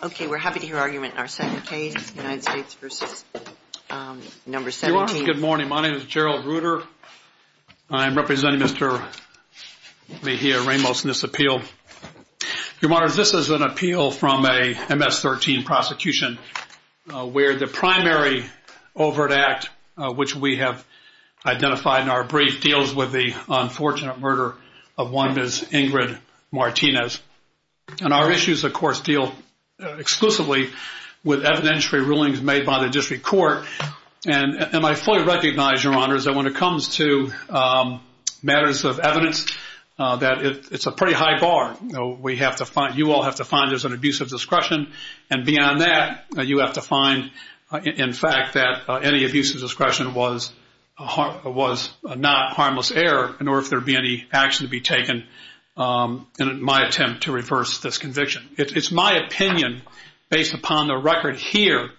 Okay, we're happy to hear argument in our second case, United States v. No. 17. Your Honor, good morning. My name is Gerald Ruder. I am representing Mr. Mejia-Ramos in this appeal. Your Honor, this is an appeal from a MS-13 prosecution where the primary overt act, which we have identified in our brief, deals with the unfortunate murder of one Ms. Ingrid Martinez. And our issues, of course, deal exclusively with evidentiary rulings made by the district court. And I fully recognize, Your Honor, that when it comes to matters of evidence, that it's a pretty high bar. You all have to find there's an abuse of discretion. And beyond that, you have to find, in fact, that any abuse of discretion was not harmless error, nor if there be any action to be taken in my attempt to reverse this conviction. It's my opinion, based upon the record here,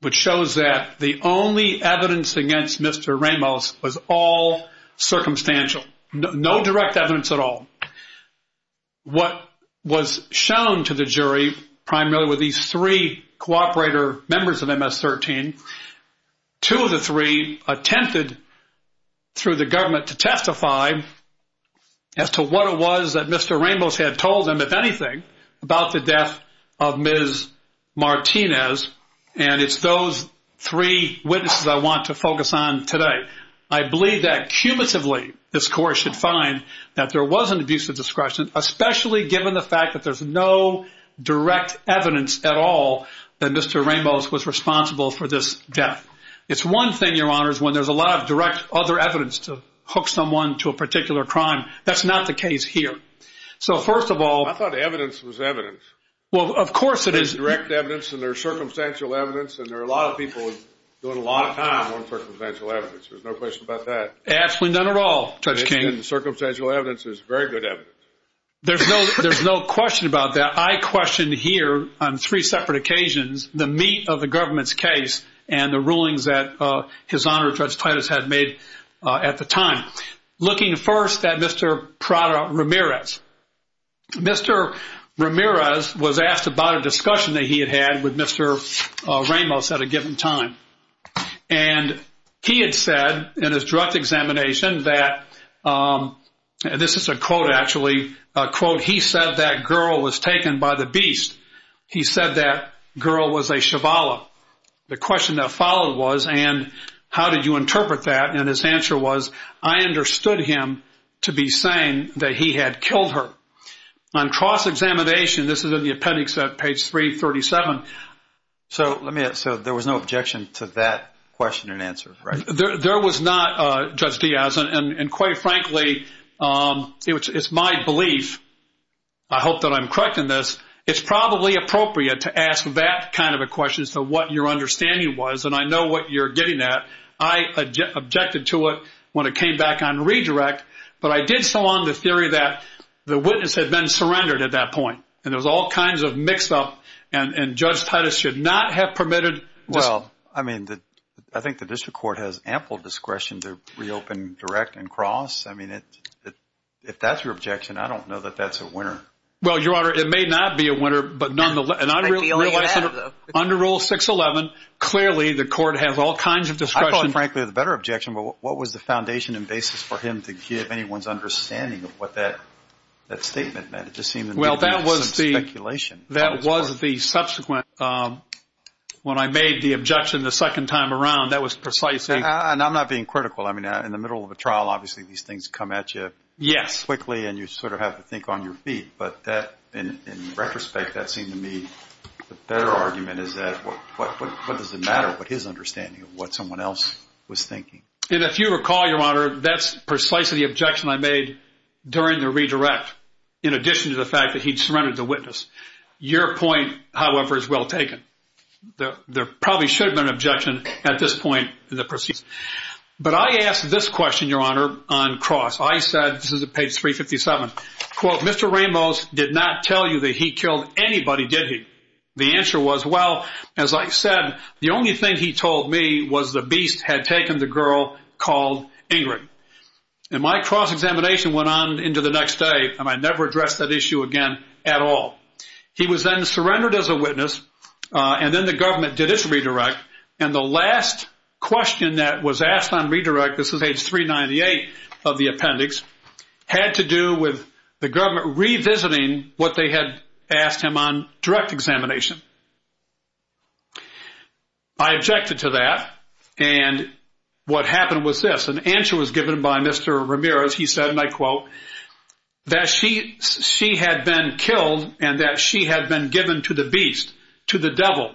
which shows that the only evidence against Mr. Ramos was all circumstantial, no direct evidence at all. What was shown to the jury primarily were these three cooperator members of MS-13. Two of the three attempted through the government to testify as to what it was that Mr. Ramos had told them, if anything, about the death of Ms. Martinez. And it's those three witnesses I want to focus on today. I believe that, cumulatively, this court should find that there was an abuse of discretion, especially given the fact that there's no direct evidence at all that Mr. Ramos was responsible for this death. It's one thing, Your Honor, when there's a lot of direct other evidence to hook someone to a particular crime. That's not the case here. So, first of all... I thought evidence was evidence. Well, of course it is. There's direct evidence, and there's circumstantial evidence, and there are a lot of people doing a lot of time on circumstantial evidence. There's no question about that. Absolutely none at all, Judge King. Circumstantial evidence is very good evidence. There's no question about that. I question here on three separate occasions the meat of the government's case and the rulings that His Honor, Judge Titus, had made at the time. Looking first at Mr. Prada-Ramirez. Mr. Ramirez was asked about a discussion that he had had with Mr. Ramos at a given time, and he had said in his direct examination that, and this is a quote actually, a quote, he said that girl was taken by the beast. He said that girl was a cheval. The question that followed was, and how did you interpret that? And his answer was, I understood him to be saying that he had killed her. On cross-examination, this is in the appendix at page 337. So there was no objection to that question and answer, right? There was not, Judge Diaz. And quite frankly, it's my belief, I hope that I'm correct in this, it's probably appropriate to ask that kind of a question as to what your understanding was, and I know what you're getting at. I objected to it when it came back on redirect, but I did so on the theory that the witness had been surrendered at that point, and there was all kinds of mix-up, and Judge Titus should not have permitted this. Well, I mean, I think the district court has ample discretion to reopen direct and cross. I mean, if that's your objection, I don't know that that's a winner. Well, Your Honor, it may not be a winner, but nonetheless, under Rule 611, clearly the court has all kinds of discretion. I thought, frankly, the better objection, but what was the foundation and basis for him to give anyone's understanding of what that statement meant? It just seemed to me to be some speculation. Well, that was the subsequent, when I made the objection the second time around, that was precisely. And I'm not being critical. I mean, in the middle of a trial, obviously these things come at you quickly, and you sort of have to think on your feet, but in retrospect, that seemed to me the better argument is that what does it matter but his understanding of what someone else was thinking? And if you recall, Your Honor, that's precisely the objection I made during the redirect, in addition to the fact that he'd surrendered the witness. Your point, however, is well taken. There probably should have been an objection at this point in the proceedings. But I asked this question, Your Honor, on cross. I said, this is at page 357, quote, Mr. Ramos did not tell you that he killed anybody, did he? The answer was, well, as I said, the only thing he told me was the beast had taken the girl called Ingrid. And my cross-examination went on into the next day, and I never addressed that issue again at all. He was then surrendered as a witness, and then the government did its redirect, and the last question that was asked on redirect, this is page 398 of the appendix, had to do with the government revisiting what they had asked him on direct examination. I objected to that, and what happened was this. An answer was given by Mr. Ramirez. He said, and I quote, that she had been killed and that she had been given to the beast, to the devil.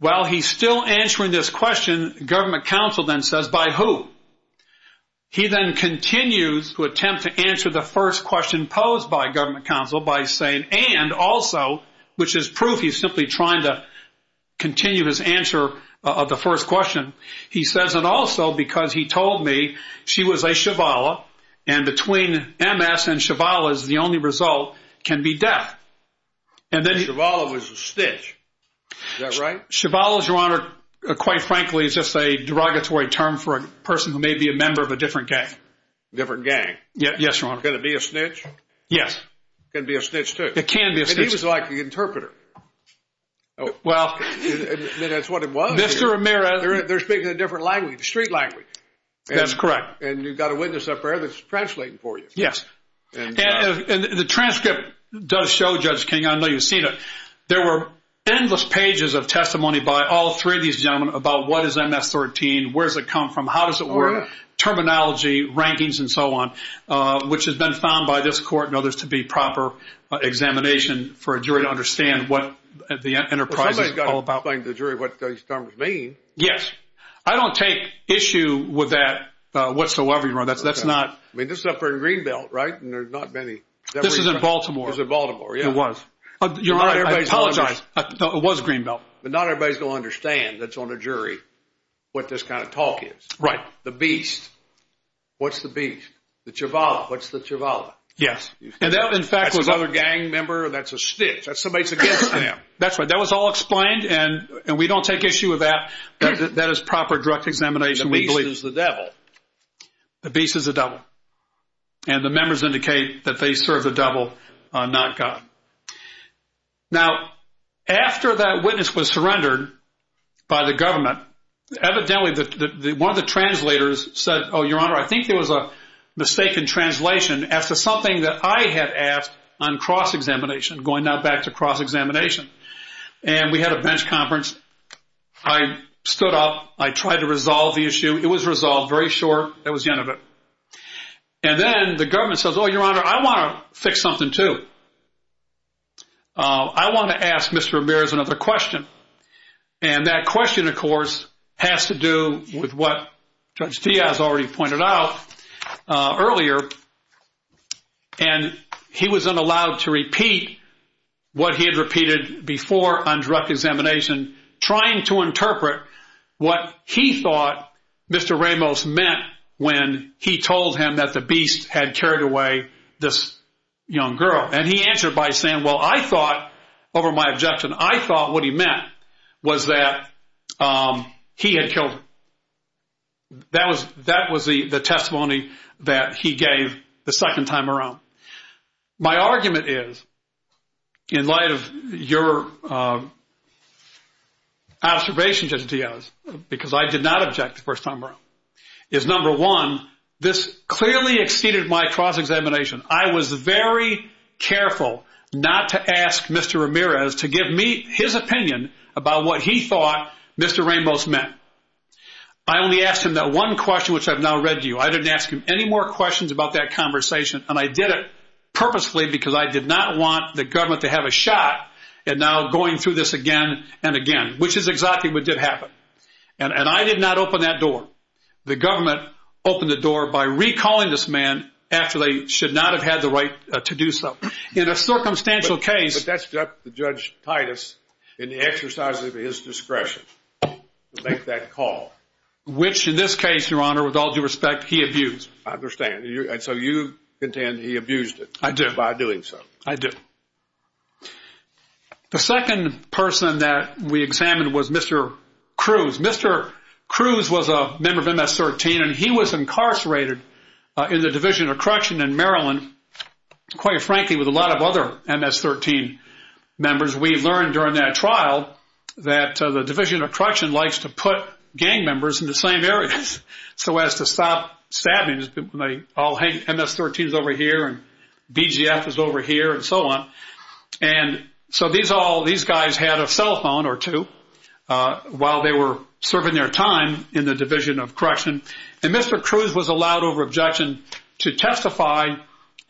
Well, he's still answering this question, government counsel then says, by who? He then continues to attempt to answer the first question posed by government counsel by saying, and also, which is proof he's simply trying to continue his answer of the first question. He says, and also because he told me she was a Chevala, and between MS and Chevala is the only result, can be death. Chevala was a snitch, is that right? Chevala, Your Honor, quite frankly, is just a derogatory term for a person who may be a member of a different gang. Different gang. Yes, Your Honor. Can it be a snitch? Yes. Can it be a snitch too? It can be a snitch. And he was like the interpreter. Well. That's what it was. Mr. Ramirez. They're speaking a different language, the street language. That's correct. And you've got a witness up there that's translating for you. Yes. And the transcript does show, Judge King, I know you've seen it, there were endless pages of testimony by all three of these gentlemen about what is MS-13, where does it come from, how does it work, terminology, rankings, and so on, which has been found by this court and others to be proper examination for a jury to understand what the enterprise is all about. Somebody's got to explain to the jury what these terms mean. Yes. I mean, this is up there in Greenbelt, right, and there's not many. This is in Baltimore. This is in Baltimore, yeah. It was. Your Honor, I apologize. It was Greenbelt. But not everybody's going to understand that's on a jury what this kind of talk is. Right. The Beast. What's the Beast? The Cheval. What's the Cheval? Yes. And that, in fact, was. That's another gang member. That's a snitch. That's somebody that's against them. That's right. That was all explained, and we don't take issue with that. That is proper direct examination, we believe. The Beast is the devil. The Beast is the devil. And the members indicate that they serve the devil, not God. Now, after that witness was surrendered by the government, evidently one of the translators said, oh, Your Honor, I think there was a mistake in translation as to something that I had asked on cross-examination, going now back to cross-examination. And we had a bench conference. I stood up. I tried to resolve the issue. It was resolved very short. That was the end of it. And then the government says, oh, Your Honor, I want to fix something, too. I want to ask Mr. Ramirez another question, and that question, of course, has to do with what Judge Diaz already pointed out earlier, and he was not allowed to repeat what he had repeated before on direct examination, trying to interpret what he thought Mr. Ramos meant when he told him that the Beast had carried away this young girl. And he answered by saying, well, I thought, over my objection, I thought what he meant was that he had killed her. That was the testimony that he gave the second time around. My argument is, in light of your observation, Judge Diaz, because I did not object the first time around, is, number one, this clearly exceeded my cross-examination. I was very careful not to ask Mr. Ramirez to give me his opinion about what he thought Mr. Ramos meant. I only asked him that one question, which I've now read to you. I didn't ask him any more questions about that conversation, and I did it purposefully because I did not want the government to have a shot at now going through this again and again, which is exactly what did happen, and I did not open that door. The government opened the door by recalling this man after they should not have had the right to do so. In a circumstantial case— But that's up to Judge Titus in the exercise of his discretion to make that call. Which, in this case, Your Honor, with all due respect, he abused. I understand, and so you contend he abused it. I do. By doing so. I do. The second person that we examined was Mr. Cruz. Mr. Cruz was a member of MS-13, and he was incarcerated in the Division of Correction in Maryland, quite frankly, with a lot of other MS-13 members. We learned during that trial that the Division of Correction likes to put gang members in the same areas so as to stop stabbings. MS-13 is over here, and BGF is over here, and so on. And so these guys had a cell phone or two while they were serving their time in the Division of Correction, and Mr. Cruz was allowed over objection to testify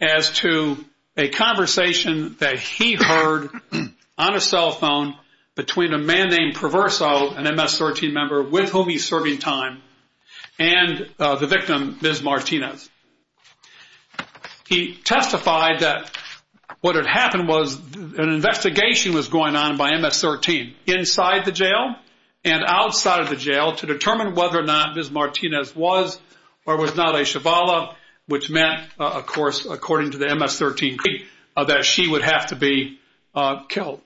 as to a conversation that he heard on a cell phone between a man named Proverso, an MS-13 member with whom he's serving time, and the victim, Ms. Martinez. He testified that what had happened was an investigation was going on by MS-13 inside the jail and outside of the jail to determine whether or not Ms. Martinez was or was not a Shavala, which meant, of course, according to the MS-13, that she would have to be killed.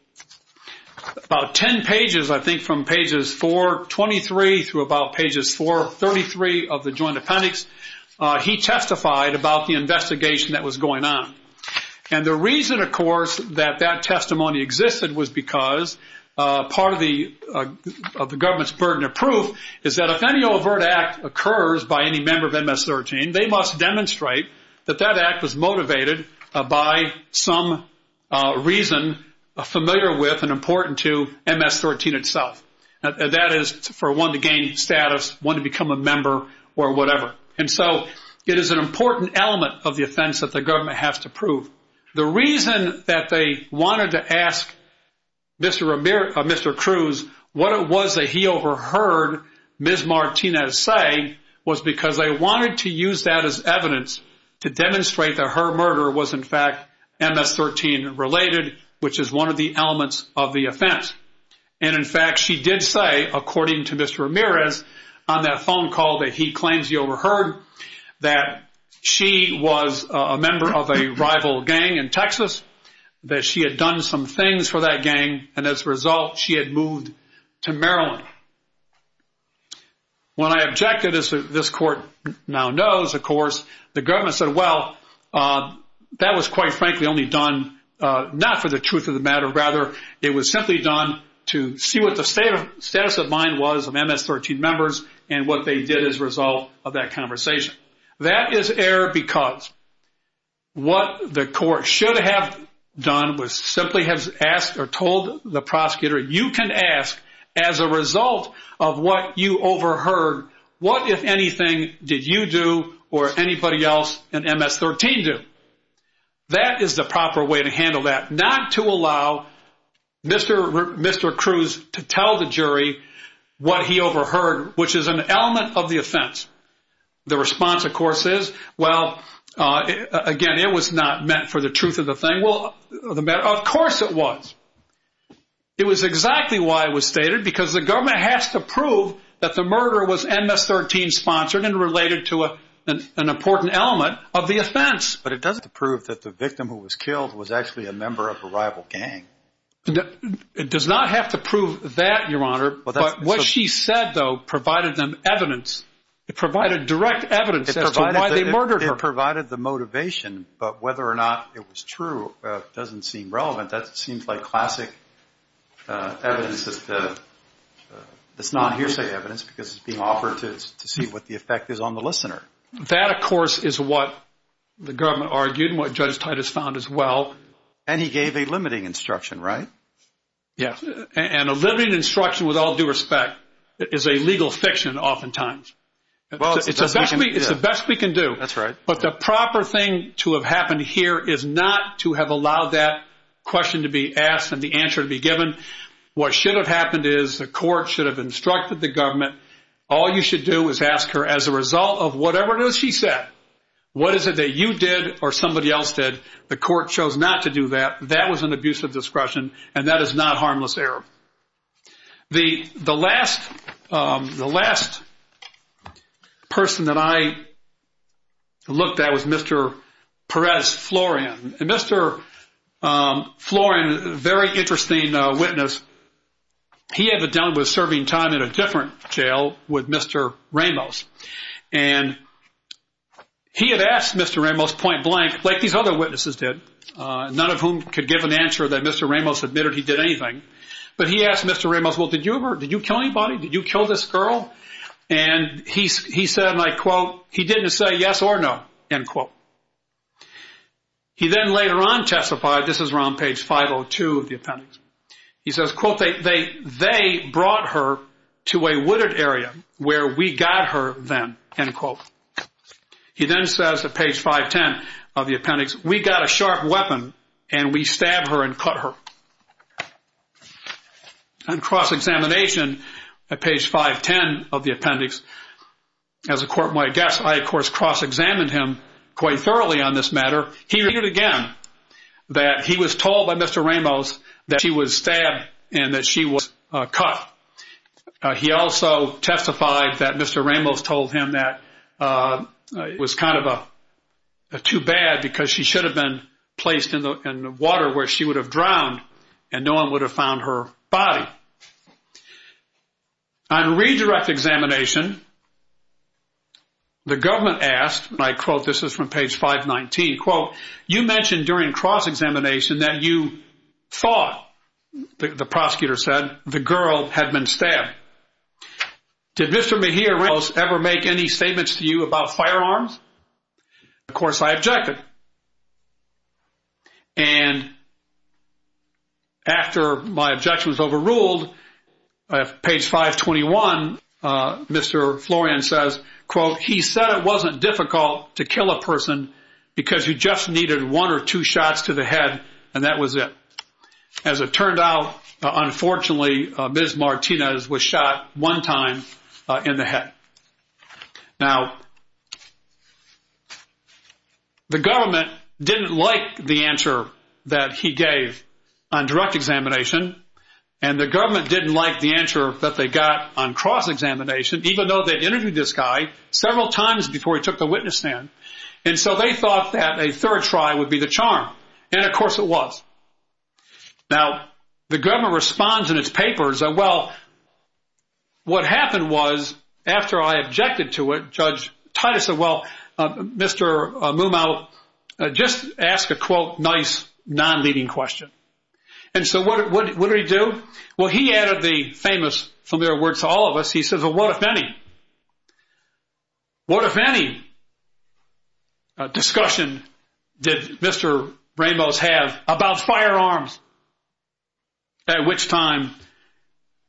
About 10 pages, I think, from pages 423 through about pages 433 of the joint appendix, he testified about the investigation that was going on. And the reason, of course, that that testimony existed was because part of the government's burden of proof is that if any overt act occurs by any member of MS-13, they must demonstrate that that act was motivated by some reason familiar with and important to MS-13 itself. That is for one to gain status, one to become a member, or whatever. And so it is an important element of the offense that the government has to prove. The reason that they wanted to ask Mr. Cruz what it was that he overheard Ms. Martinez say was because they wanted to use that as evidence to demonstrate that her murder was, in fact, MS-13 related, which is one of the elements of the offense. And in fact, she did say, according to Mr. Ramirez, on that phone call that he claims he overheard, that she was a member of a rival gang in Texas, that she had done some things for that gang, and as a result, she had moved to Maryland. When I objected, as this court now knows, of course, the government said, well, that was quite frankly only done not for the truth of the matter, rather it was simply done to see what the status of mind was of MS-13 members and what they did as a result of that conversation. That is error because what the court should have done was simply have asked or told the prosecutor, you can ask as a result of what you overheard, what, if anything, did you do or anybody else in MS-13 do? That is the proper way to handle that, not to allow Mr. Cruz to tell the jury what he overheard, which is an element of the offense. The response, of course, is, well, again, it was not meant for the truth of the thing. Well, of course it was. It was exactly why it was stated, because the government has to prove that the murder was MS-13 sponsored and related to an important element of the offense. But it doesn't have to prove that the victim who was killed was actually a member of a rival gang. It does not have to prove that, Your Honor, but what she said, though, provided them evidence. It provided direct evidence as to why they murdered her. It provided the motivation, but whether or not it was true doesn't seem relevant. That seems like classic evidence that's not hearsay evidence because it's being offered to see what the effect is on the listener. That, of course, is what the government argued and what Judge Titus found as well. And he gave a limiting instruction, right? Yes, and a limiting instruction, with all due respect, is a legal fiction oftentimes. It's the best we can do. That's right. But the proper thing to have happened here is not to have allowed that question to be asked and the answer to be given. What should have happened is the court should have instructed the government, all you should do is ask her as a result of whatever it is she said, what is it that you did or somebody else did? The court chose not to do that. That was an abuse of discretion, and that is not harmless error. The last person that I looked at was Mr. Perez Florian. And Mr. Florian, a very interesting witness, he had been dealing with serving time in a different jail with Mr. Ramos. And he had asked Mr. Ramos point blank, like these other witnesses did, none of whom could give an answer that Mr. Ramos admitted he did anything. But he asked Mr. Ramos, well, did you kill anybody? Did you kill this girl? And he said, and I quote, he didn't say yes or no, end quote. He then later on testified, this is around page 502 of the appendix. He says, quote, they brought her to a wooded area where we got her then, end quote. He then says at page 510 of the appendix, we got a sharp weapon and we stabbed her and cut her. On cross-examination at page 510 of the appendix, as a court might guess, I, of course, cross-examined him quite thoroughly on this matter. He repeated again that he was told by Mr. Ramos that she was stabbed and that she was cut. He also testified that Mr. Ramos told him that it was kind of too bad because she should have been placed in the water where she would have drowned and no one would have found her body. On redirect examination, the government asked, and I quote, this is from page 519, quote, you mentioned during cross-examination that you thought, the prosecutor said, that the girl had been stabbed. Did Mr. Mejia Ramos ever make any statements to you about firearms? Of course I objected. And after my objection was overruled, at page 521, Mr. Florian says, quote, he said it wasn't difficult to kill a person because you just needed one or two shots to the head and that was it. As it turned out, unfortunately, Ms. Martinez was shot one time in the head. Now, the government didn't like the answer that he gave on direct examination and the government didn't like the answer that they got on cross-examination, even though they interviewed this guy several times before he took the witness stand. And so they thought that a third try would be the charm. And, of course, it was. Now, the government responds in its papers that, well, what happened was after I objected to it, Judge Titus said, well, Mr. Mumau, just ask a, quote, nice non-leading question. And so what did he do? Well, he added the famous familiar words to all of us. He says, well, what if any discussion did Mr. Ramos have about firearms? At which time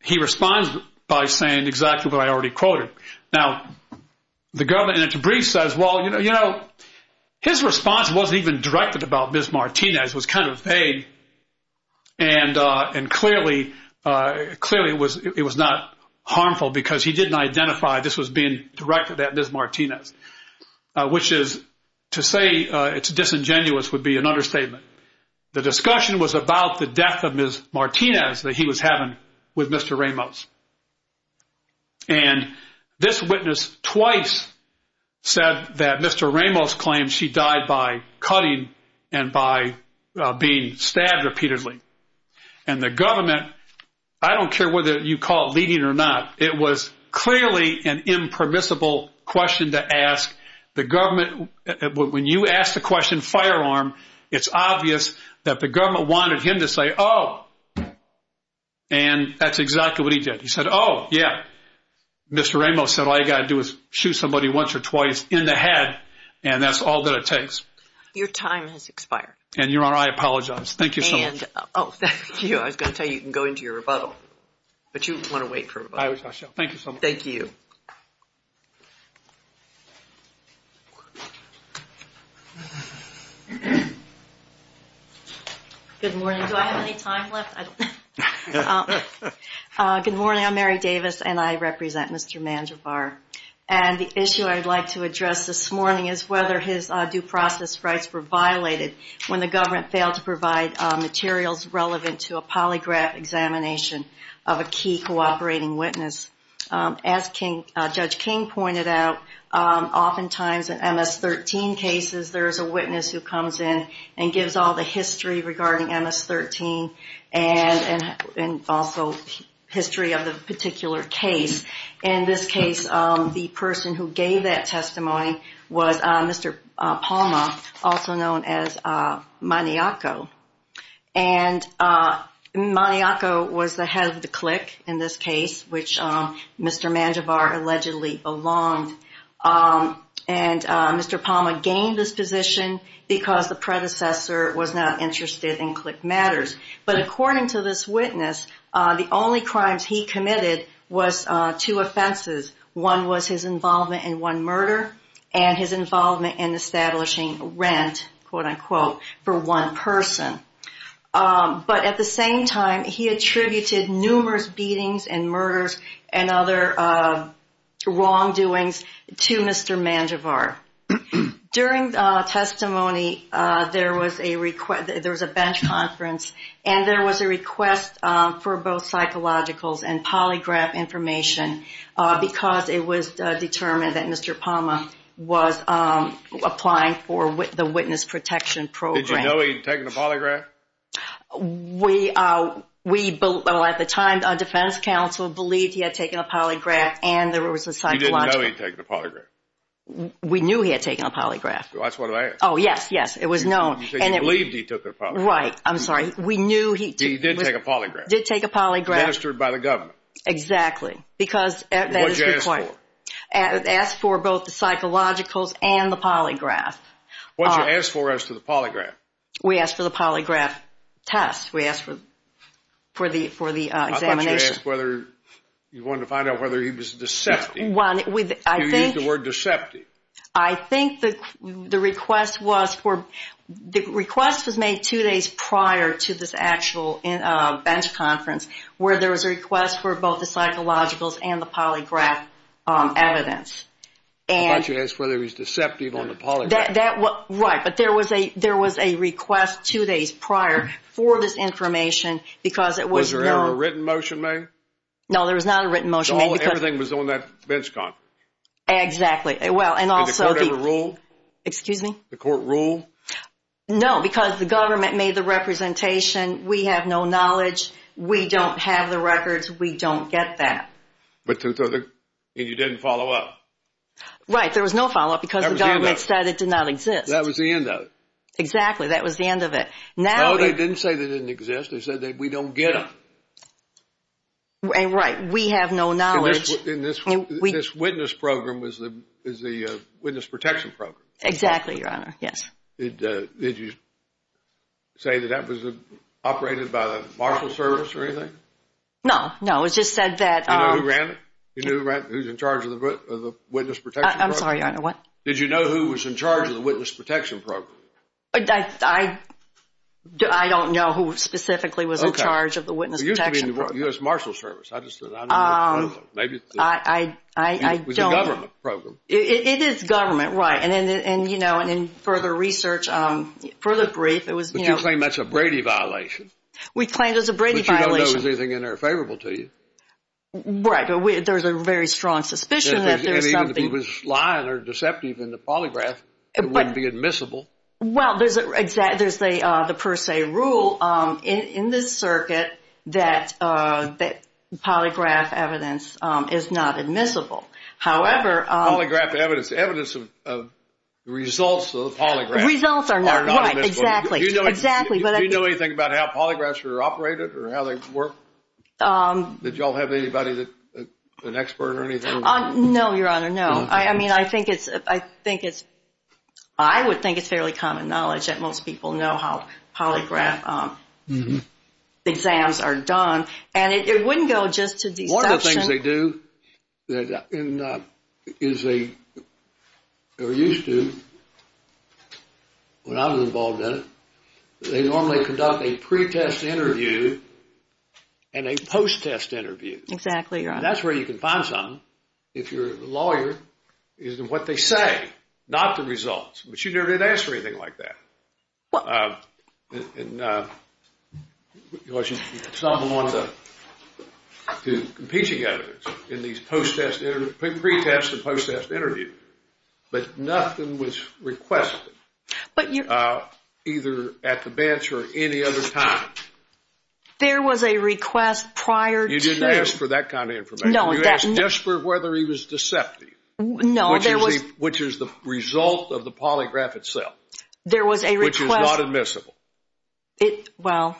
he responds by saying exactly what I already quoted. Now, the government in its brief says, well, you know, his response wasn't even directed about Ms. Martinez. It was kind of vague. And clearly it was not harmful because he didn't identify this was being directed at Ms. Martinez, which is to say it's disingenuous would be an understatement. The discussion was about the death of Ms. Martinez that he was having with Mr. Ramos. And this witness twice said that Mr. Ramos claimed she died by cutting and by being stabbed repeatedly. And the government, I don't care whether you call it leading or not, it was clearly an impermissible question to ask. The government, when you ask the question firearm, it's obvious that the government wanted him to say, oh. And that's exactly what he did. He said, oh, yeah, Mr. Ramos said all you got to do is shoot somebody once or twice in the head. And that's all that it takes. Your time has expired. And Your Honor, I apologize. Thank you so much. Oh, thank you. I was going to tell you, you can go into your rebuttal. But you want to wait for rebuttal. I shall. Thank you so much. Thank you. Good morning. Do I have any time left? Good morning. I'm Mary Davis, and I represent Mr. Mangivar. And the issue I'd like to address this morning is whether his due process rights were violated when the government failed to provide materials relevant to a polygraph examination of a key cooperating witness. As Judge King pointed out, oftentimes in MS-13 cases, there's a witness who comes in and gives all the history regarding MS-13 and also history of the particular case. In this case, the person who gave that testimony was Mr. Palma, also known as Maniaco. And Maniaco was the head of the CLIC in this case, which Mr. Mangivar allegedly belonged. And Mr. Palma gained this position because the predecessor was not interested in CLIC matters. But according to this witness, the only crimes he committed was two offenses. One was his involvement in one murder and his involvement in establishing rent, quote-unquote, for one person. But at the same time, he attributed numerous beatings and murders and other wrongdoings to Mr. Mangivar. During the testimony, there was a bench conference and there was a request for both psychologicals and polygraph information because it was determined that Mr. Palma was applying for the witness protection program. Did you know he'd taken a polygraph? We, at the time, the defense counsel believed he had taken a polygraph and there was a psychological. You didn't know he'd taken a polygraph? We knew he had taken a polygraph. That's what I asked. Oh, yes, yes. It was known. So you believed he took a polygraph. Right. I'm sorry. We knew he took a polygraph. He did take a polygraph. Did take a polygraph. Administered by the government. Exactly. Because that is required. What did you ask for? Asked for both the psychologicals and the polygraph. What did you ask for as to the polygraph? We asked for the polygraph test. We asked for the examination. I thought you asked whether you wanted to find out whether he was deceptive. You used the word deceptive. I think the request was for, the request was made two days prior to this actual bench conference where there was a request for both the psychologicals and the polygraph evidence. I thought you asked whether he was deceptive on the polygraph. Right, but there was a request two days prior for this information because it was known. Was there ever a written motion made? No, there was not a written motion made. Everything was on that bench conference. Exactly. And the court ever ruled? Excuse me? The court ruled? No, because the government made the representation. We have no knowledge. We don't have the records. We don't get that. And you didn't follow up? Right, there was no follow up because the government said it did not exist. That was the end of it. Exactly, that was the end of it. No, they didn't say that it didn't exist. They said that we don't get it. Right, we have no knowledge. And this witness program is the witness protection program? Exactly, Your Honor, yes. Did you say that that was operated by the Marshal Service or anything? No, no, it just said that Do you know who ran it? Do you know who's in charge of the witness protection program? I'm sorry, Your Honor, what? Did you know who was in charge of the witness protection program? I don't know who specifically was in charge of the witness protection program. It used to be the U.S. Marshal Service. I just said I don't know what program. I don't know. It was a government program. It is government, right. And, you know, in further research, further brief, it was, you know But you claim that's a Brady violation. We claim it's a Brady violation. But you don't know if there's anything in there favorable to you. Right, there's a very strong suspicion that there's something And even if it was lying or deceptive in the polygraph, it wouldn't be admissible. Well, there's the per se rule in this circuit that polygraph evidence is not admissible. However, Polygraph evidence, evidence of results of polygraph Results are not, right, exactly. Do you know anything about how polygraphs are operated or how they work? Did you all have anybody, an expert or anything? No, Your Honor, no. I mean, I think it's, I think it's, I would think it's fairly common knowledge That most people know how polygraph exams are done. And it wouldn't go just to deception. One of the things they do is they, or used to, when I was involved in it, They normally conduct a pre-test interview and a post-test interview. Exactly, Your Honor. And that's where you can find something. If you're a lawyer, it's what they say, not the results. But you never did ask for anything like that. Well, Because it's not one of the competing evidence in these pre-test and post-test interviews. But nothing was requested, either at the bench or any other time. There was a request prior to You didn't ask for that kind of information. You asked just for whether he was deceptive. No, there was Which is the result of the polygraph itself. There was a request Which is not admissible. Well,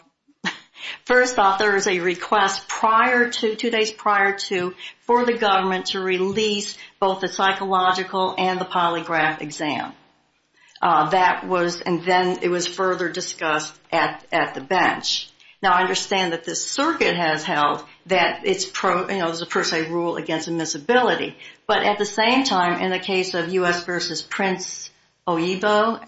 first off, there is a request prior to, two days prior to, For the government to release both the psychological and the polygraph exam. That was, and then it was further discussed at the bench. Now, I understand that this circuit has held that it's, you know, There's a per se rule against admissibility. But at the same time, in the case of U.S. v. Prince Oebo,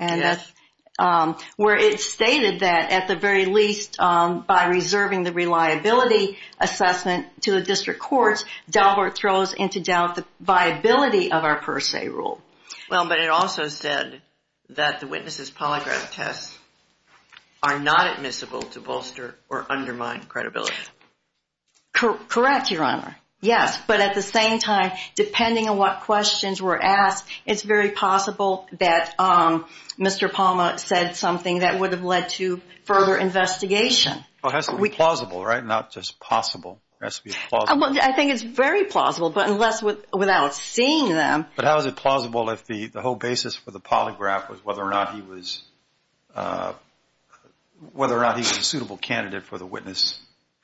Where it's stated that, at the very least, By reserving the reliability assessment to the district courts, Dalbert throws into doubt the viability of our per se rule. Well, but it also said that the witness's polygraph tests Are not admissible to bolster or undermine credibility. Correct, Your Honor. Yes, but at the same time, depending on what questions were asked, It's very possible that Mr. Palma said something That would have led to further investigation. Well, it has to be plausible, right? Not just possible. It has to be plausible. I think it's very plausible, but unless without seeing them But how is it plausible if the whole basis for the polygraph Was whether or not he was a suitable candidate For the witness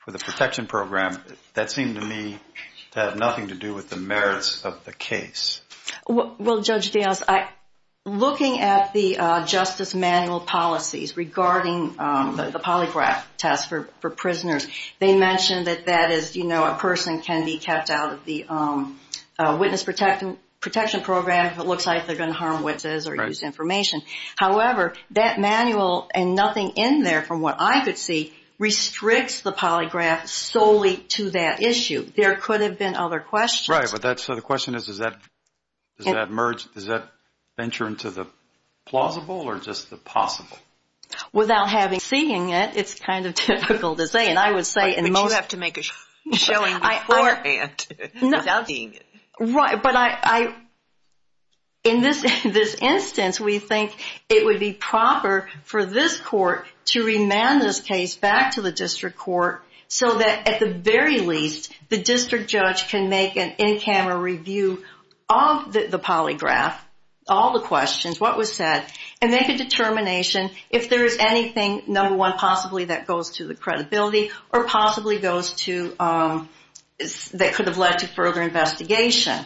protection program? That seemed to me to have nothing to do with the merits of the case. Well, Judge Dales, looking at the Justice manual policies Regarding the polygraph test for prisoners, They mentioned that that is, you know, A person can be kept out of the witness protection program If it looks like they're going to harm witnesses or use information. However, that manual, and nothing in there from what I could see, Restricts the polygraph solely to that issue. There could have been other questions. Right, so the question is, does that venture into the plausible Or just the possible? Without having seen it, it's kind of difficult to say. But you have to make a showing beforehand without seeing it. Right, but in this instance, we think it would be proper for this court To remand this case back to the district court So that at the very least, the district judge can make an in-camera review Of the polygraph, all the questions, what was said, And make a determination if there is anything, number one, Possibly that goes to the credibility, or possibly goes to, That could have led to further investigation.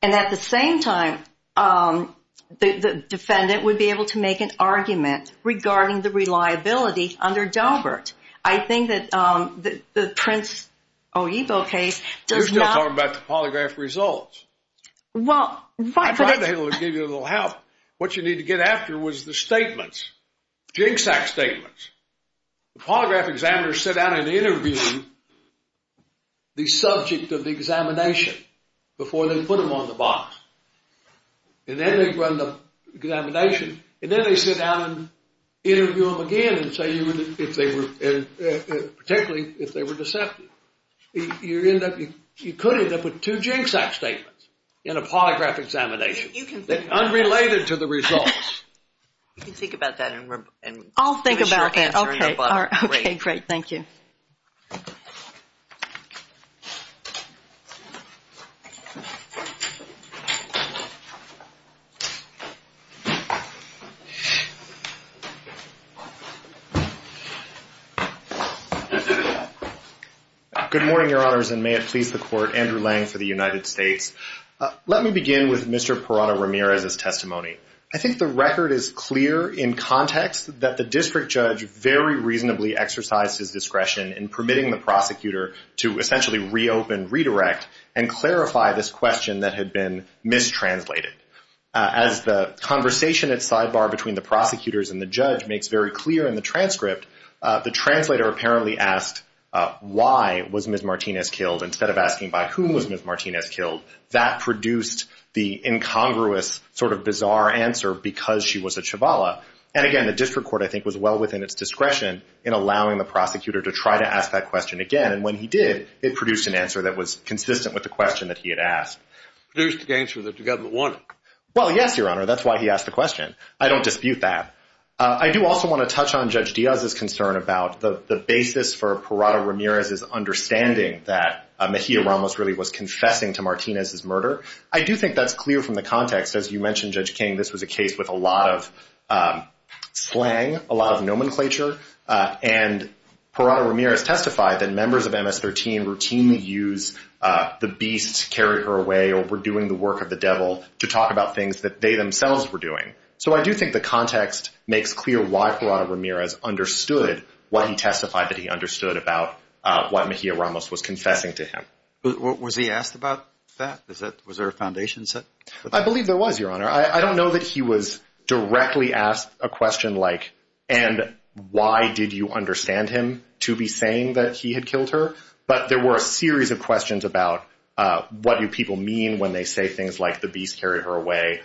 And at the same time, the defendant would be able to make an argument Regarding the reliability under Daubert. I think that the Prince Oebo case does not... You're still talking about the polygraph results. Well, but... I tried to give you a little help. What you need to get after was the statements. Jigsaw statements. The polygraph examiners sit down and interview The subject of the examination Before they put them on the box. And then they run the examination. And then they sit down and interview them again And say if they were... Particularly if they were deceptive. You could end up with two jigsaw statements In a polygraph examination. Unrelated to the results. You can think about that. I'll think about that. Okay, great. Thank you. Good morning, your honors, and may it please the court. Andrew Lang for the United States. Let me begin with Mr. Perrano-Ramirez's testimony. I think the record is clear in context That the district judge very reasonably exercised his discretion In permitting the prosecutor to essentially reopen, redirect And clarify this question that had been mistranslated. As the conversation at sidebar between the prosecutors and the judge Makes very clear in the transcript The translator apparently asked Why was Ms. Martinez killed Instead of asking by whom was Ms. Martinez killed. That produced the incongruous sort of bizarre answer Because she was a Chabala. And again, the district court I think was well within its discretion In allowing the prosecutor to try to ask that question again. And when he did, it produced an answer that was consistent With the question that he had asked. It produced the answer that the government wanted. Well, yes, your honor, that's why he asked the question. I don't dispute that. I do also want to touch on Judge Diaz's concern About the basis for Perrano-Ramirez's understanding That Mejia Ramos really was confessing to Martinez's murder. I do think that's clear from the context. As you mentioned, Judge King, this was a case with a lot of slang. A lot of nomenclature. And Perrano-Ramirez testified that members of MS-13 Routinely use the beast carried her away Or were doing the work of the devil To talk about things that they themselves were doing. So I do think the context makes clear why Perrano-Ramirez Understood what he testified that he understood About what Mejia Ramos was confessing to him. Was he asked about that? Was there a foundation set? I believe there was, your honor. I don't know that he was directly asked a question like And why did you understand him to be saying that he had killed her? But there were a series of questions about What do people mean when they say things like The beast carried her away?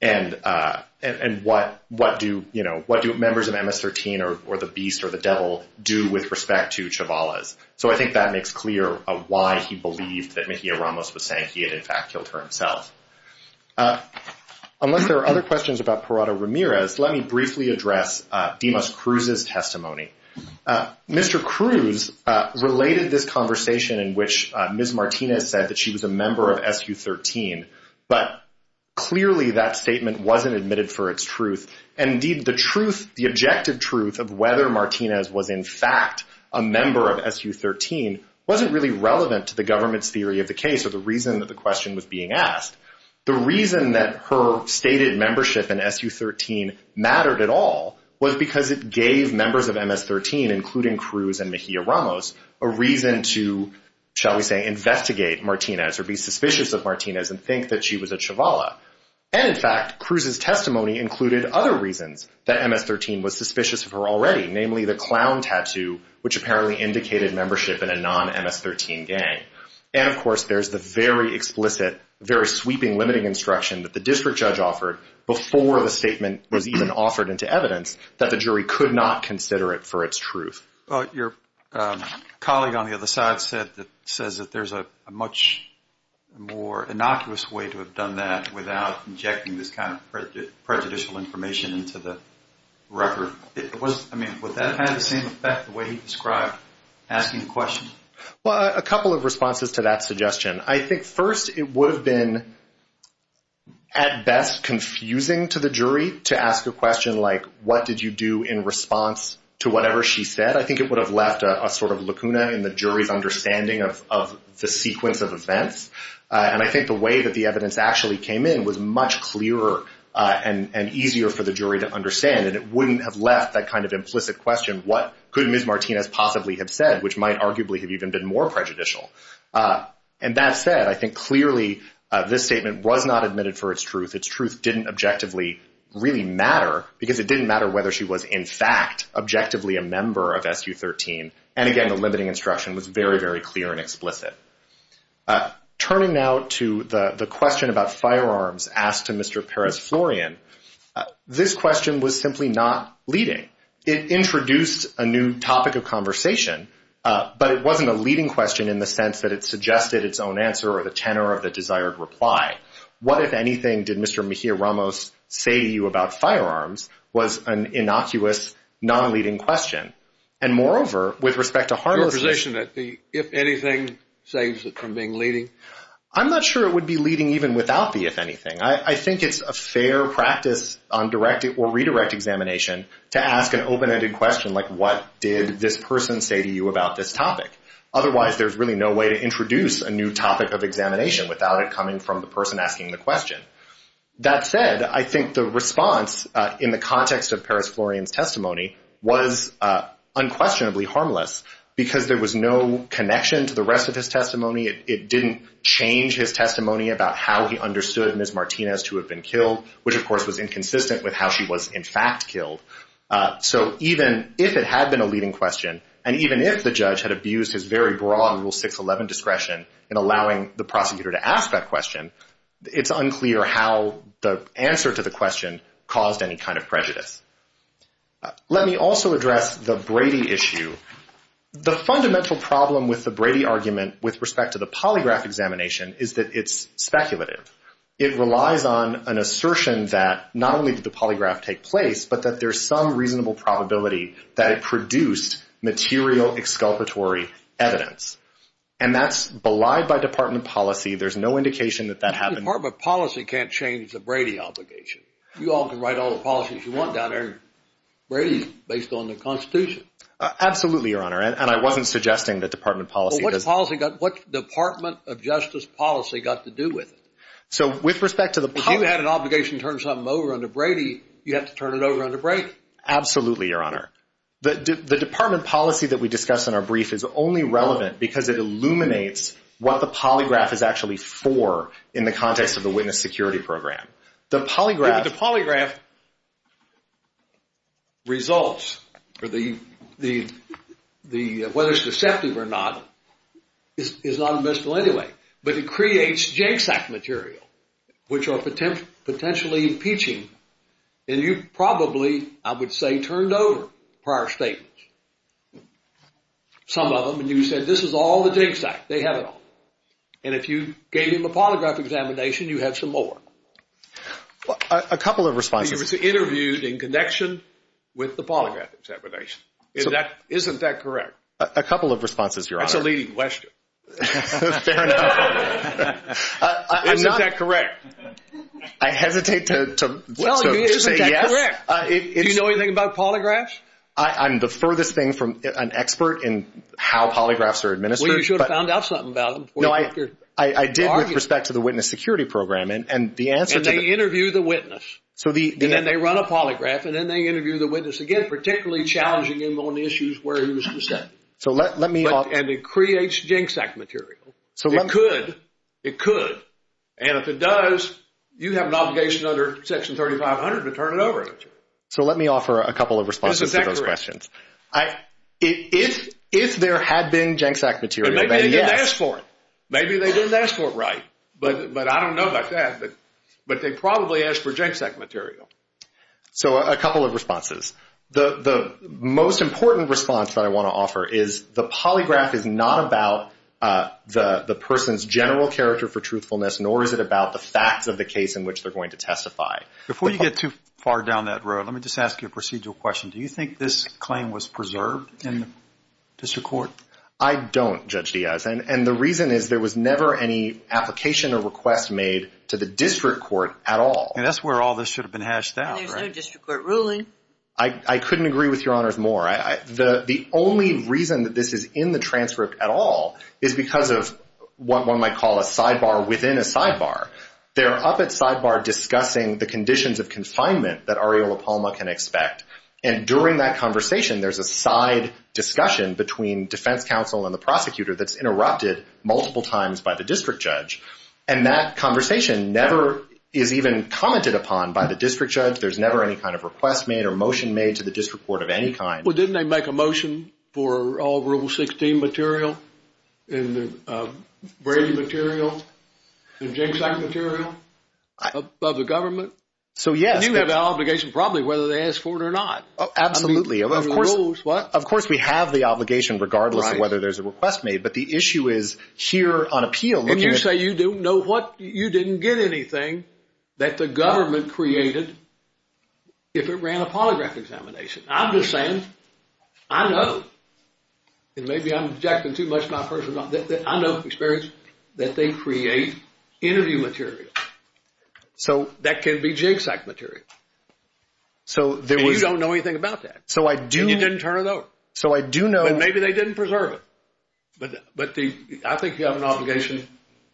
And what do members of MS-13 Or the beast or the devil do with respect to Chavales? So I think that makes clear why he believed That Mejia Ramos was saying he had in fact killed her himself. Unless there are other questions about Perrano-Ramirez Let me briefly address Dimas Cruz's testimony. Mr. Cruz related this conversation in which Ms. Martinez said that she was a member of SU-13 But clearly that statement wasn't admitted for its truth. And indeed the truth, the objective truth Of whether Martinez was in fact a member of SU-13 Wasn't really relevant to the government's theory of the case Or the reason that the question was being asked. The reason that her stated membership in SU-13 mattered at all Was because it gave members of MS-13 Including Cruz and Mejia Ramos A reason to, shall we say, investigate Martinez Or be suspicious of Martinez and think that she was a Chavala. And in fact, Cruz's testimony included other reasons That MS-13 was suspicious of her already Namely the clown tattoo Which apparently indicated membership in a non-MS-13 gang. And of course there's the very explicit Very sweeping limiting instruction that the district judge offered Before the statement was even offered into evidence That the jury could not consider it for its truth. Your colleague on the other side said That there's a much more innocuous way to have done that Without injecting this kind of prejudicial information Into the record. I mean, would that have the same effect The way he described asking questions? Well, a couple of responses to that suggestion. I think first it would have been At best confusing to the jury to ask a question like What did you do in response to whatever she said? I think it would have left a sort of lacuna In the jury's understanding of the sequence of events. And I think the way that the evidence actually came in Was much clearer and easier for the jury to understand And it wouldn't have left that kind of implicit question What could Ms. Martinez possibly have said? Which might arguably have even been more prejudicial. And that said, I think clearly this statement Was not admitted for its truth. Its truth didn't objectively really matter Because it didn't matter whether she was in fact Objectively a member of SU-13. And again, the limiting instruction was very, very clear and explicit. Turning now to the question about firearms Asked to Mr. Perez-Florian This question was simply not leading. It introduced a new topic of conversation But it wasn't a leading question In the sense that it suggested its own answer Or the tenor of the desired reply. What, if anything, did Mr. Mejia-Ramos say to you about firearms Was an innocuous, non-leading question. And moreover, with respect to harnessing The if-anything saves it from being leading? I'm not sure it would be leading even without the if-anything. I think it's a fair practice on redirect examination To ask an open-ended question like What did this person say to you about this topic? Otherwise, there's really no way to introduce A new topic of examination Without it coming from the person asking the question. That said, I think the response In the context of Perez-Florian's testimony Was unquestionably harmless Because there was no connection to the rest of his testimony It didn't change his testimony About how he understood Ms. Martinez to have been killed Which, of course, was inconsistent with how she was, in fact, killed. So even if it had been a leading question And even if the judge had abused His very broad Rule 611 discretion In allowing the prosecutor to ask that question It's unclear how the answer to the question Caused any kind of prejudice. Let me also address the Brady issue. The fundamental problem with the Brady argument With respect to the polygraph examination Is that it's speculative. It relies on an assertion that Not only did the polygraph take place But that there's some reasonable probability That it produced material exculpatory evidence. And that's belied by Department of Policy. There's no indication that that happened. Department of Policy can't change the Brady obligation. You all can write all the policies you want down there Brady's based on the Constitution. Absolutely, Your Honor. And I wasn't suggesting that Department of Policy What Department of Justice policy got to do with it? So with respect to the If you had an obligation to turn something over under Brady You have to turn it over under Brady. Absolutely, Your Honor. The Department of Policy that we discussed in our brief Is only relevant because it illuminates What the polygraph is actually for In the context of the witness security program. The polygraph results Whether it's deceptive or not Is not admissible anyway. But it creates jigsaw material Which are potentially impeaching And you probably, I would say, turned over prior statements. Some of them. And you said this is all the jigsaw. They have it all. And if you gave them a polygraph examination You have some more. A couple of responses. It was interviewed in connection with the polygraph examination. Isn't that correct? A couple of responses, Your Honor. That's a leading question. Fair enough. Isn't that correct? I hesitate to say yes. Do you know anything about polygraphs? I'm the furthest thing from an expert in how polygraphs are administered. Well, you should have found out something about them I did with respect to the witness security program. And they interview the witness. And then they run a polygraph. And then they interview the witness again. Particularly challenging him on the issues where he was presented. And it creates jigsaw material. It could. And if it does, you have an obligation under Section 3500 to turn it over. So let me offer a couple of responses to those questions. Isn't that correct? If there had been jigsaw material, then yes. Maybe they didn't ask for it. Maybe they didn't ask for it right. But I don't know about that. But they probably asked for jigsaw material. So a couple of responses. The most important response that I want to offer is the polygraph is not about the person's general character for truthfulness, nor is it about the facts of the case in which they're going to testify. Before you get too far down that road, let me just ask you a procedural question. Do you think this claim was preserved in the district court? I don't, Judge Diaz. And the reason is there was never any application or request made to the district court at all. And that's where all this should have been hashed out. And there's no district court ruling. I couldn't agree with Your Honors more. The only reason that this is in the transcript at all is because of what one might call a sidebar within a sidebar. They're up at sidebar discussing the conditions of confinement that Ariel LaPalma can expect. And during that conversation, there's a side discussion between defense counsel and the prosecutor that's interrupted multiple times by the district judge. And that conversation never is even commented upon by the district judge. There's never any kind of request made or motion made to the district court of any kind. Well, didn't they make a motion for all Rule 16 material and Brady material and jigsaw material of the government? So, yes. And you have the obligation probably whether they ask for it or not. Absolutely. Of course, we have the obligation regardless of whether there's a request made. But the issue is here on appeal. And you say you didn't get anything that the government created if it ran a polygraph examination. I'm just saying I know, and maybe I'm objecting too much to my personal experience, that they create interview material. That can be jigsaw material. So, you don't know anything about that. And you didn't turn it over. So, I do know. But maybe they didn't preserve it. But I think you have an obligation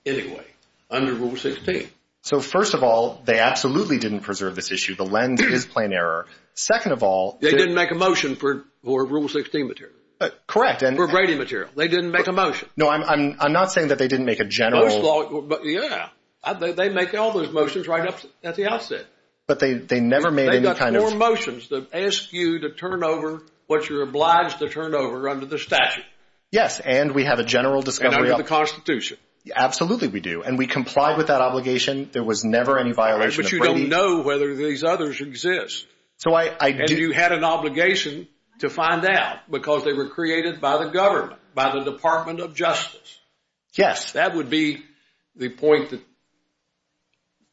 anyway under Rule 16. So, first of all, they absolutely didn't preserve this issue. The lens is plain error. Second of all, they didn't make a motion for Rule 16 material. Correct. Or Brady material. They didn't make a motion. No, I'm not saying that they didn't make a general. Yeah. They make all those motions right at the outset. But they never made any kind of. They got four motions that ask you to turn over what you're obliged to turn over under the statute. Yes, and we have a general discovery of. And under the Constitution. Absolutely, we do. And we complied with that obligation. There was never any violation of Brady. But you don't know whether these others exist. So, I do. And you had an obligation to find out because they were created by the government, by the Department of Justice. Yes. That would be the point that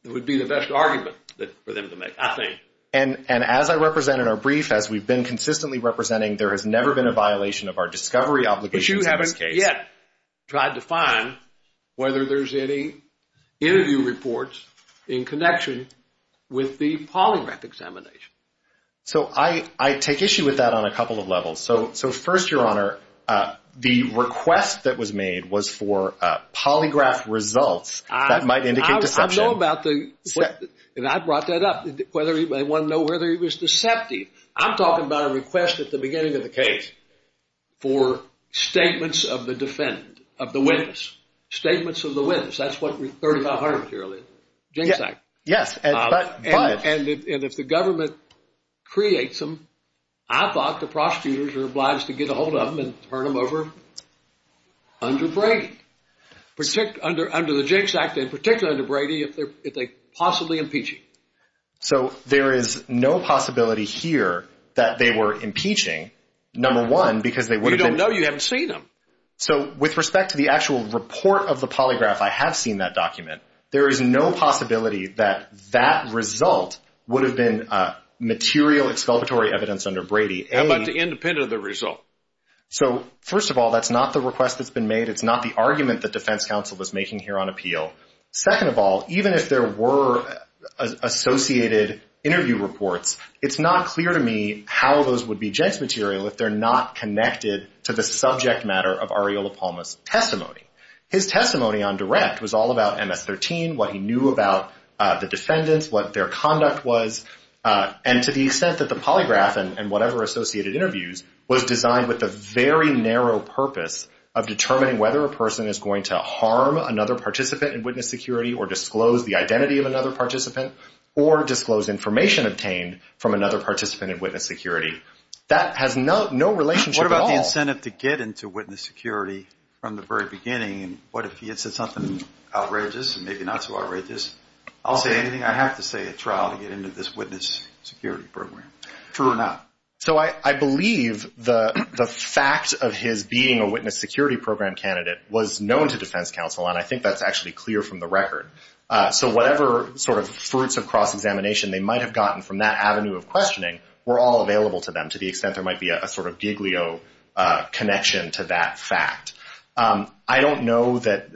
would be the best argument for them to make, I think. And as I represent in our brief, as we've been consistently representing, there has never been a violation of our discovery obligations in this case. But you haven't yet tried to find whether there's any interview reports in connection with the polygraph examination. So, I take issue with that on a couple of levels. So, first, Your Honor, the request that was made was for polygraph results that might indicate deception. I know about the – and I brought that up. They want to know whether he was deceptive. I'm talking about a request at the beginning of the case for statements of the defendant, of the witness. Statements of the witness. That's what 3500 material is. Yes. And if the government creates them, I thought the prosecutors were obliged to get a hold of them and turn them over under Brady. Under the Jinx Act, in particular under Brady, if they possibly impeach him. So, there is no possibility here that they were impeaching, number one, because they would have been – You don't know. You haven't seen them. So, with respect to the actual report of the polygraph, I have seen that document. There is no possibility that that result would have been material exculpatory evidence under Brady. How about the independent of the result? So, first of all, that's not the request that's been made. It's not the argument that defense counsel was making here on appeal. Second of all, even if there were associated interview reports, it's not clear to me how those would be Jinx material if they're not connected to the subject matter of Ariola Palma's testimony. His testimony on direct was all about MS-13, what he knew about the defendants, what their conduct was, and to the extent that the polygraph and whatever associated interviews was designed with a very narrow purpose of determining whether a person is going to harm another participant in witness security or disclose the identity of another participant or disclose information obtained from another participant in witness security. That has no relationship at all. If he was sent up to get into witness security from the very beginning, what if he had said something outrageous and maybe not so outrageous? I'll say anything I have to say at trial to get into this witness security program. True or not? So, I believe the fact of his being a witness security program candidate was known to defense counsel, and I think that's actually clear from the record. So, whatever sort of fruits of cross-examination they might have gotten from that avenue of questioning were all available to them to the extent there might be a sort of giglio connection to that fact. I don't know that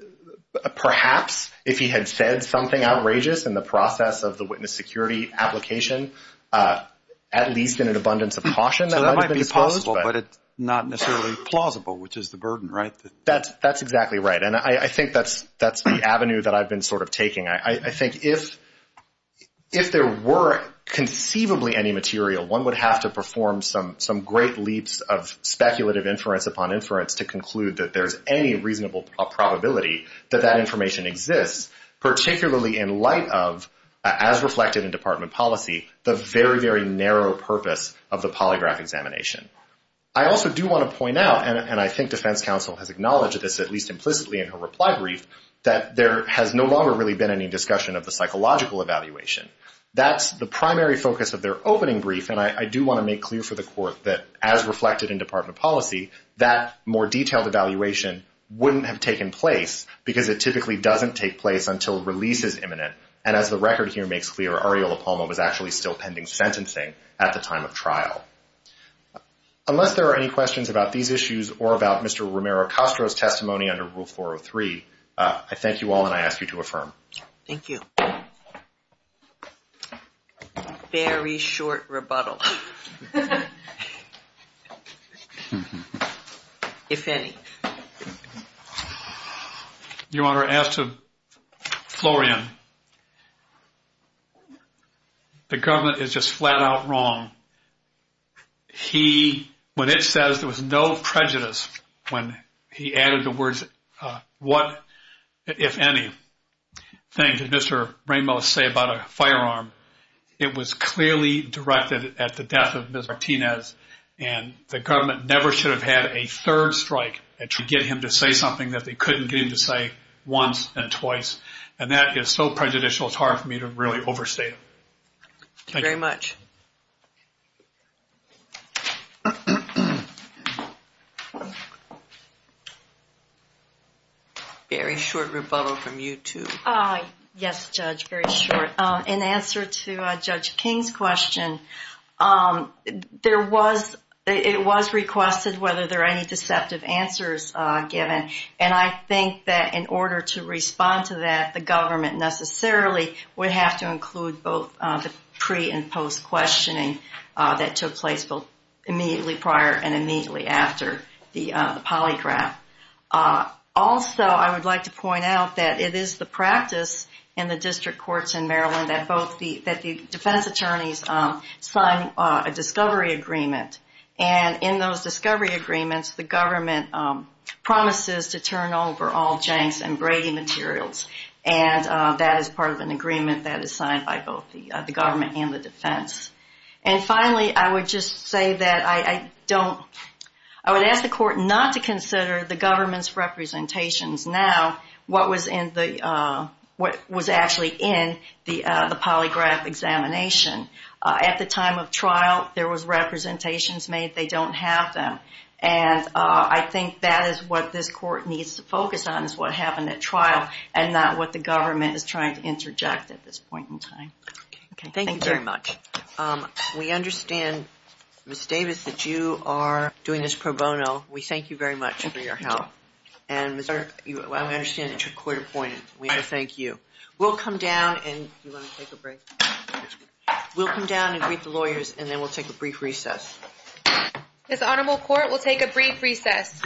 perhaps if he had said something outrageous in the process of the witness security application, at least in an abundance of caution, that might have been disclosed. So, that might be possible, but it's not necessarily plausible, which is the burden, right? That's exactly right, and I think that's the avenue that I've been sort of taking. I think if there were conceivably any material, one would have to perform some great leaps of speculative inference upon inference to conclude that there's any reasonable probability that that information exists, particularly in light of, as reflected in department policy, the very, very narrow purpose of the polygraph examination. I also do want to point out, and I think defense counsel has acknowledged this, at least implicitly in her reply brief, that there has no longer really been any discussion of the psychological evaluation. That's the primary focus of their opening brief, and I do want to make clear for the court that, as reflected in department policy, that more detailed evaluation wouldn't have taken place because it typically doesn't take place until release is imminent, and as the record here makes clear, Arreola-Palmo was actually still pending sentencing at the time of trial. Unless there are any questions about these issues or about Mr. Romero-Castro's testimony under Rule 403, I thank you all, and I ask you to affirm. Thank you. Very short rebuttal, if any. Your Honor, as to Florian, the government is just flat-out wrong. He, when it says there was no prejudice, when he added the words, what, if any, things did Mr. Ramos say about a firearm, it was clearly directed at the death of Ms. Martinez, and the government never should have had a third strike to get him to say something that they couldn't get him to say once and twice, and that is so prejudicial it's hard for me to really overstate it. Thank you very much. Very short rebuttal from you two. Yes, Judge, very short. In answer to Judge King's question, it was requested whether there are any deceptive answers given, and I think that in order to respond to that, the government necessarily would have to include both the pre- and post-questioning that took place immediately prior and immediately after the polygraph. Also, I would like to point out that it is the practice in the district courts in Maryland that the defense attorneys sign a discovery agreement, and in those discovery agreements, the government promises to turn over all Jenks and Brady materials, and that is part of an agreement that is signed by both the government and the defense. And finally, I would just say that I don't, I would ask the court not to consider the government's representations now, what was actually in the polygraph examination. At the time of trial, there was representations made. They don't have them, and I think that is what this court needs to focus on is what happened at trial and not what the government is trying to interject at this point in time. Thank you very much. We understand, Ms. Davis, that you are doing this pro bono. We thank you very much for your help, and we understand that you're court-appointed. We thank you. We'll come down and, do you want to take a break? We'll come down and greet the lawyers, and then we'll take a brief recess. This Honorable Court will take a brief recess.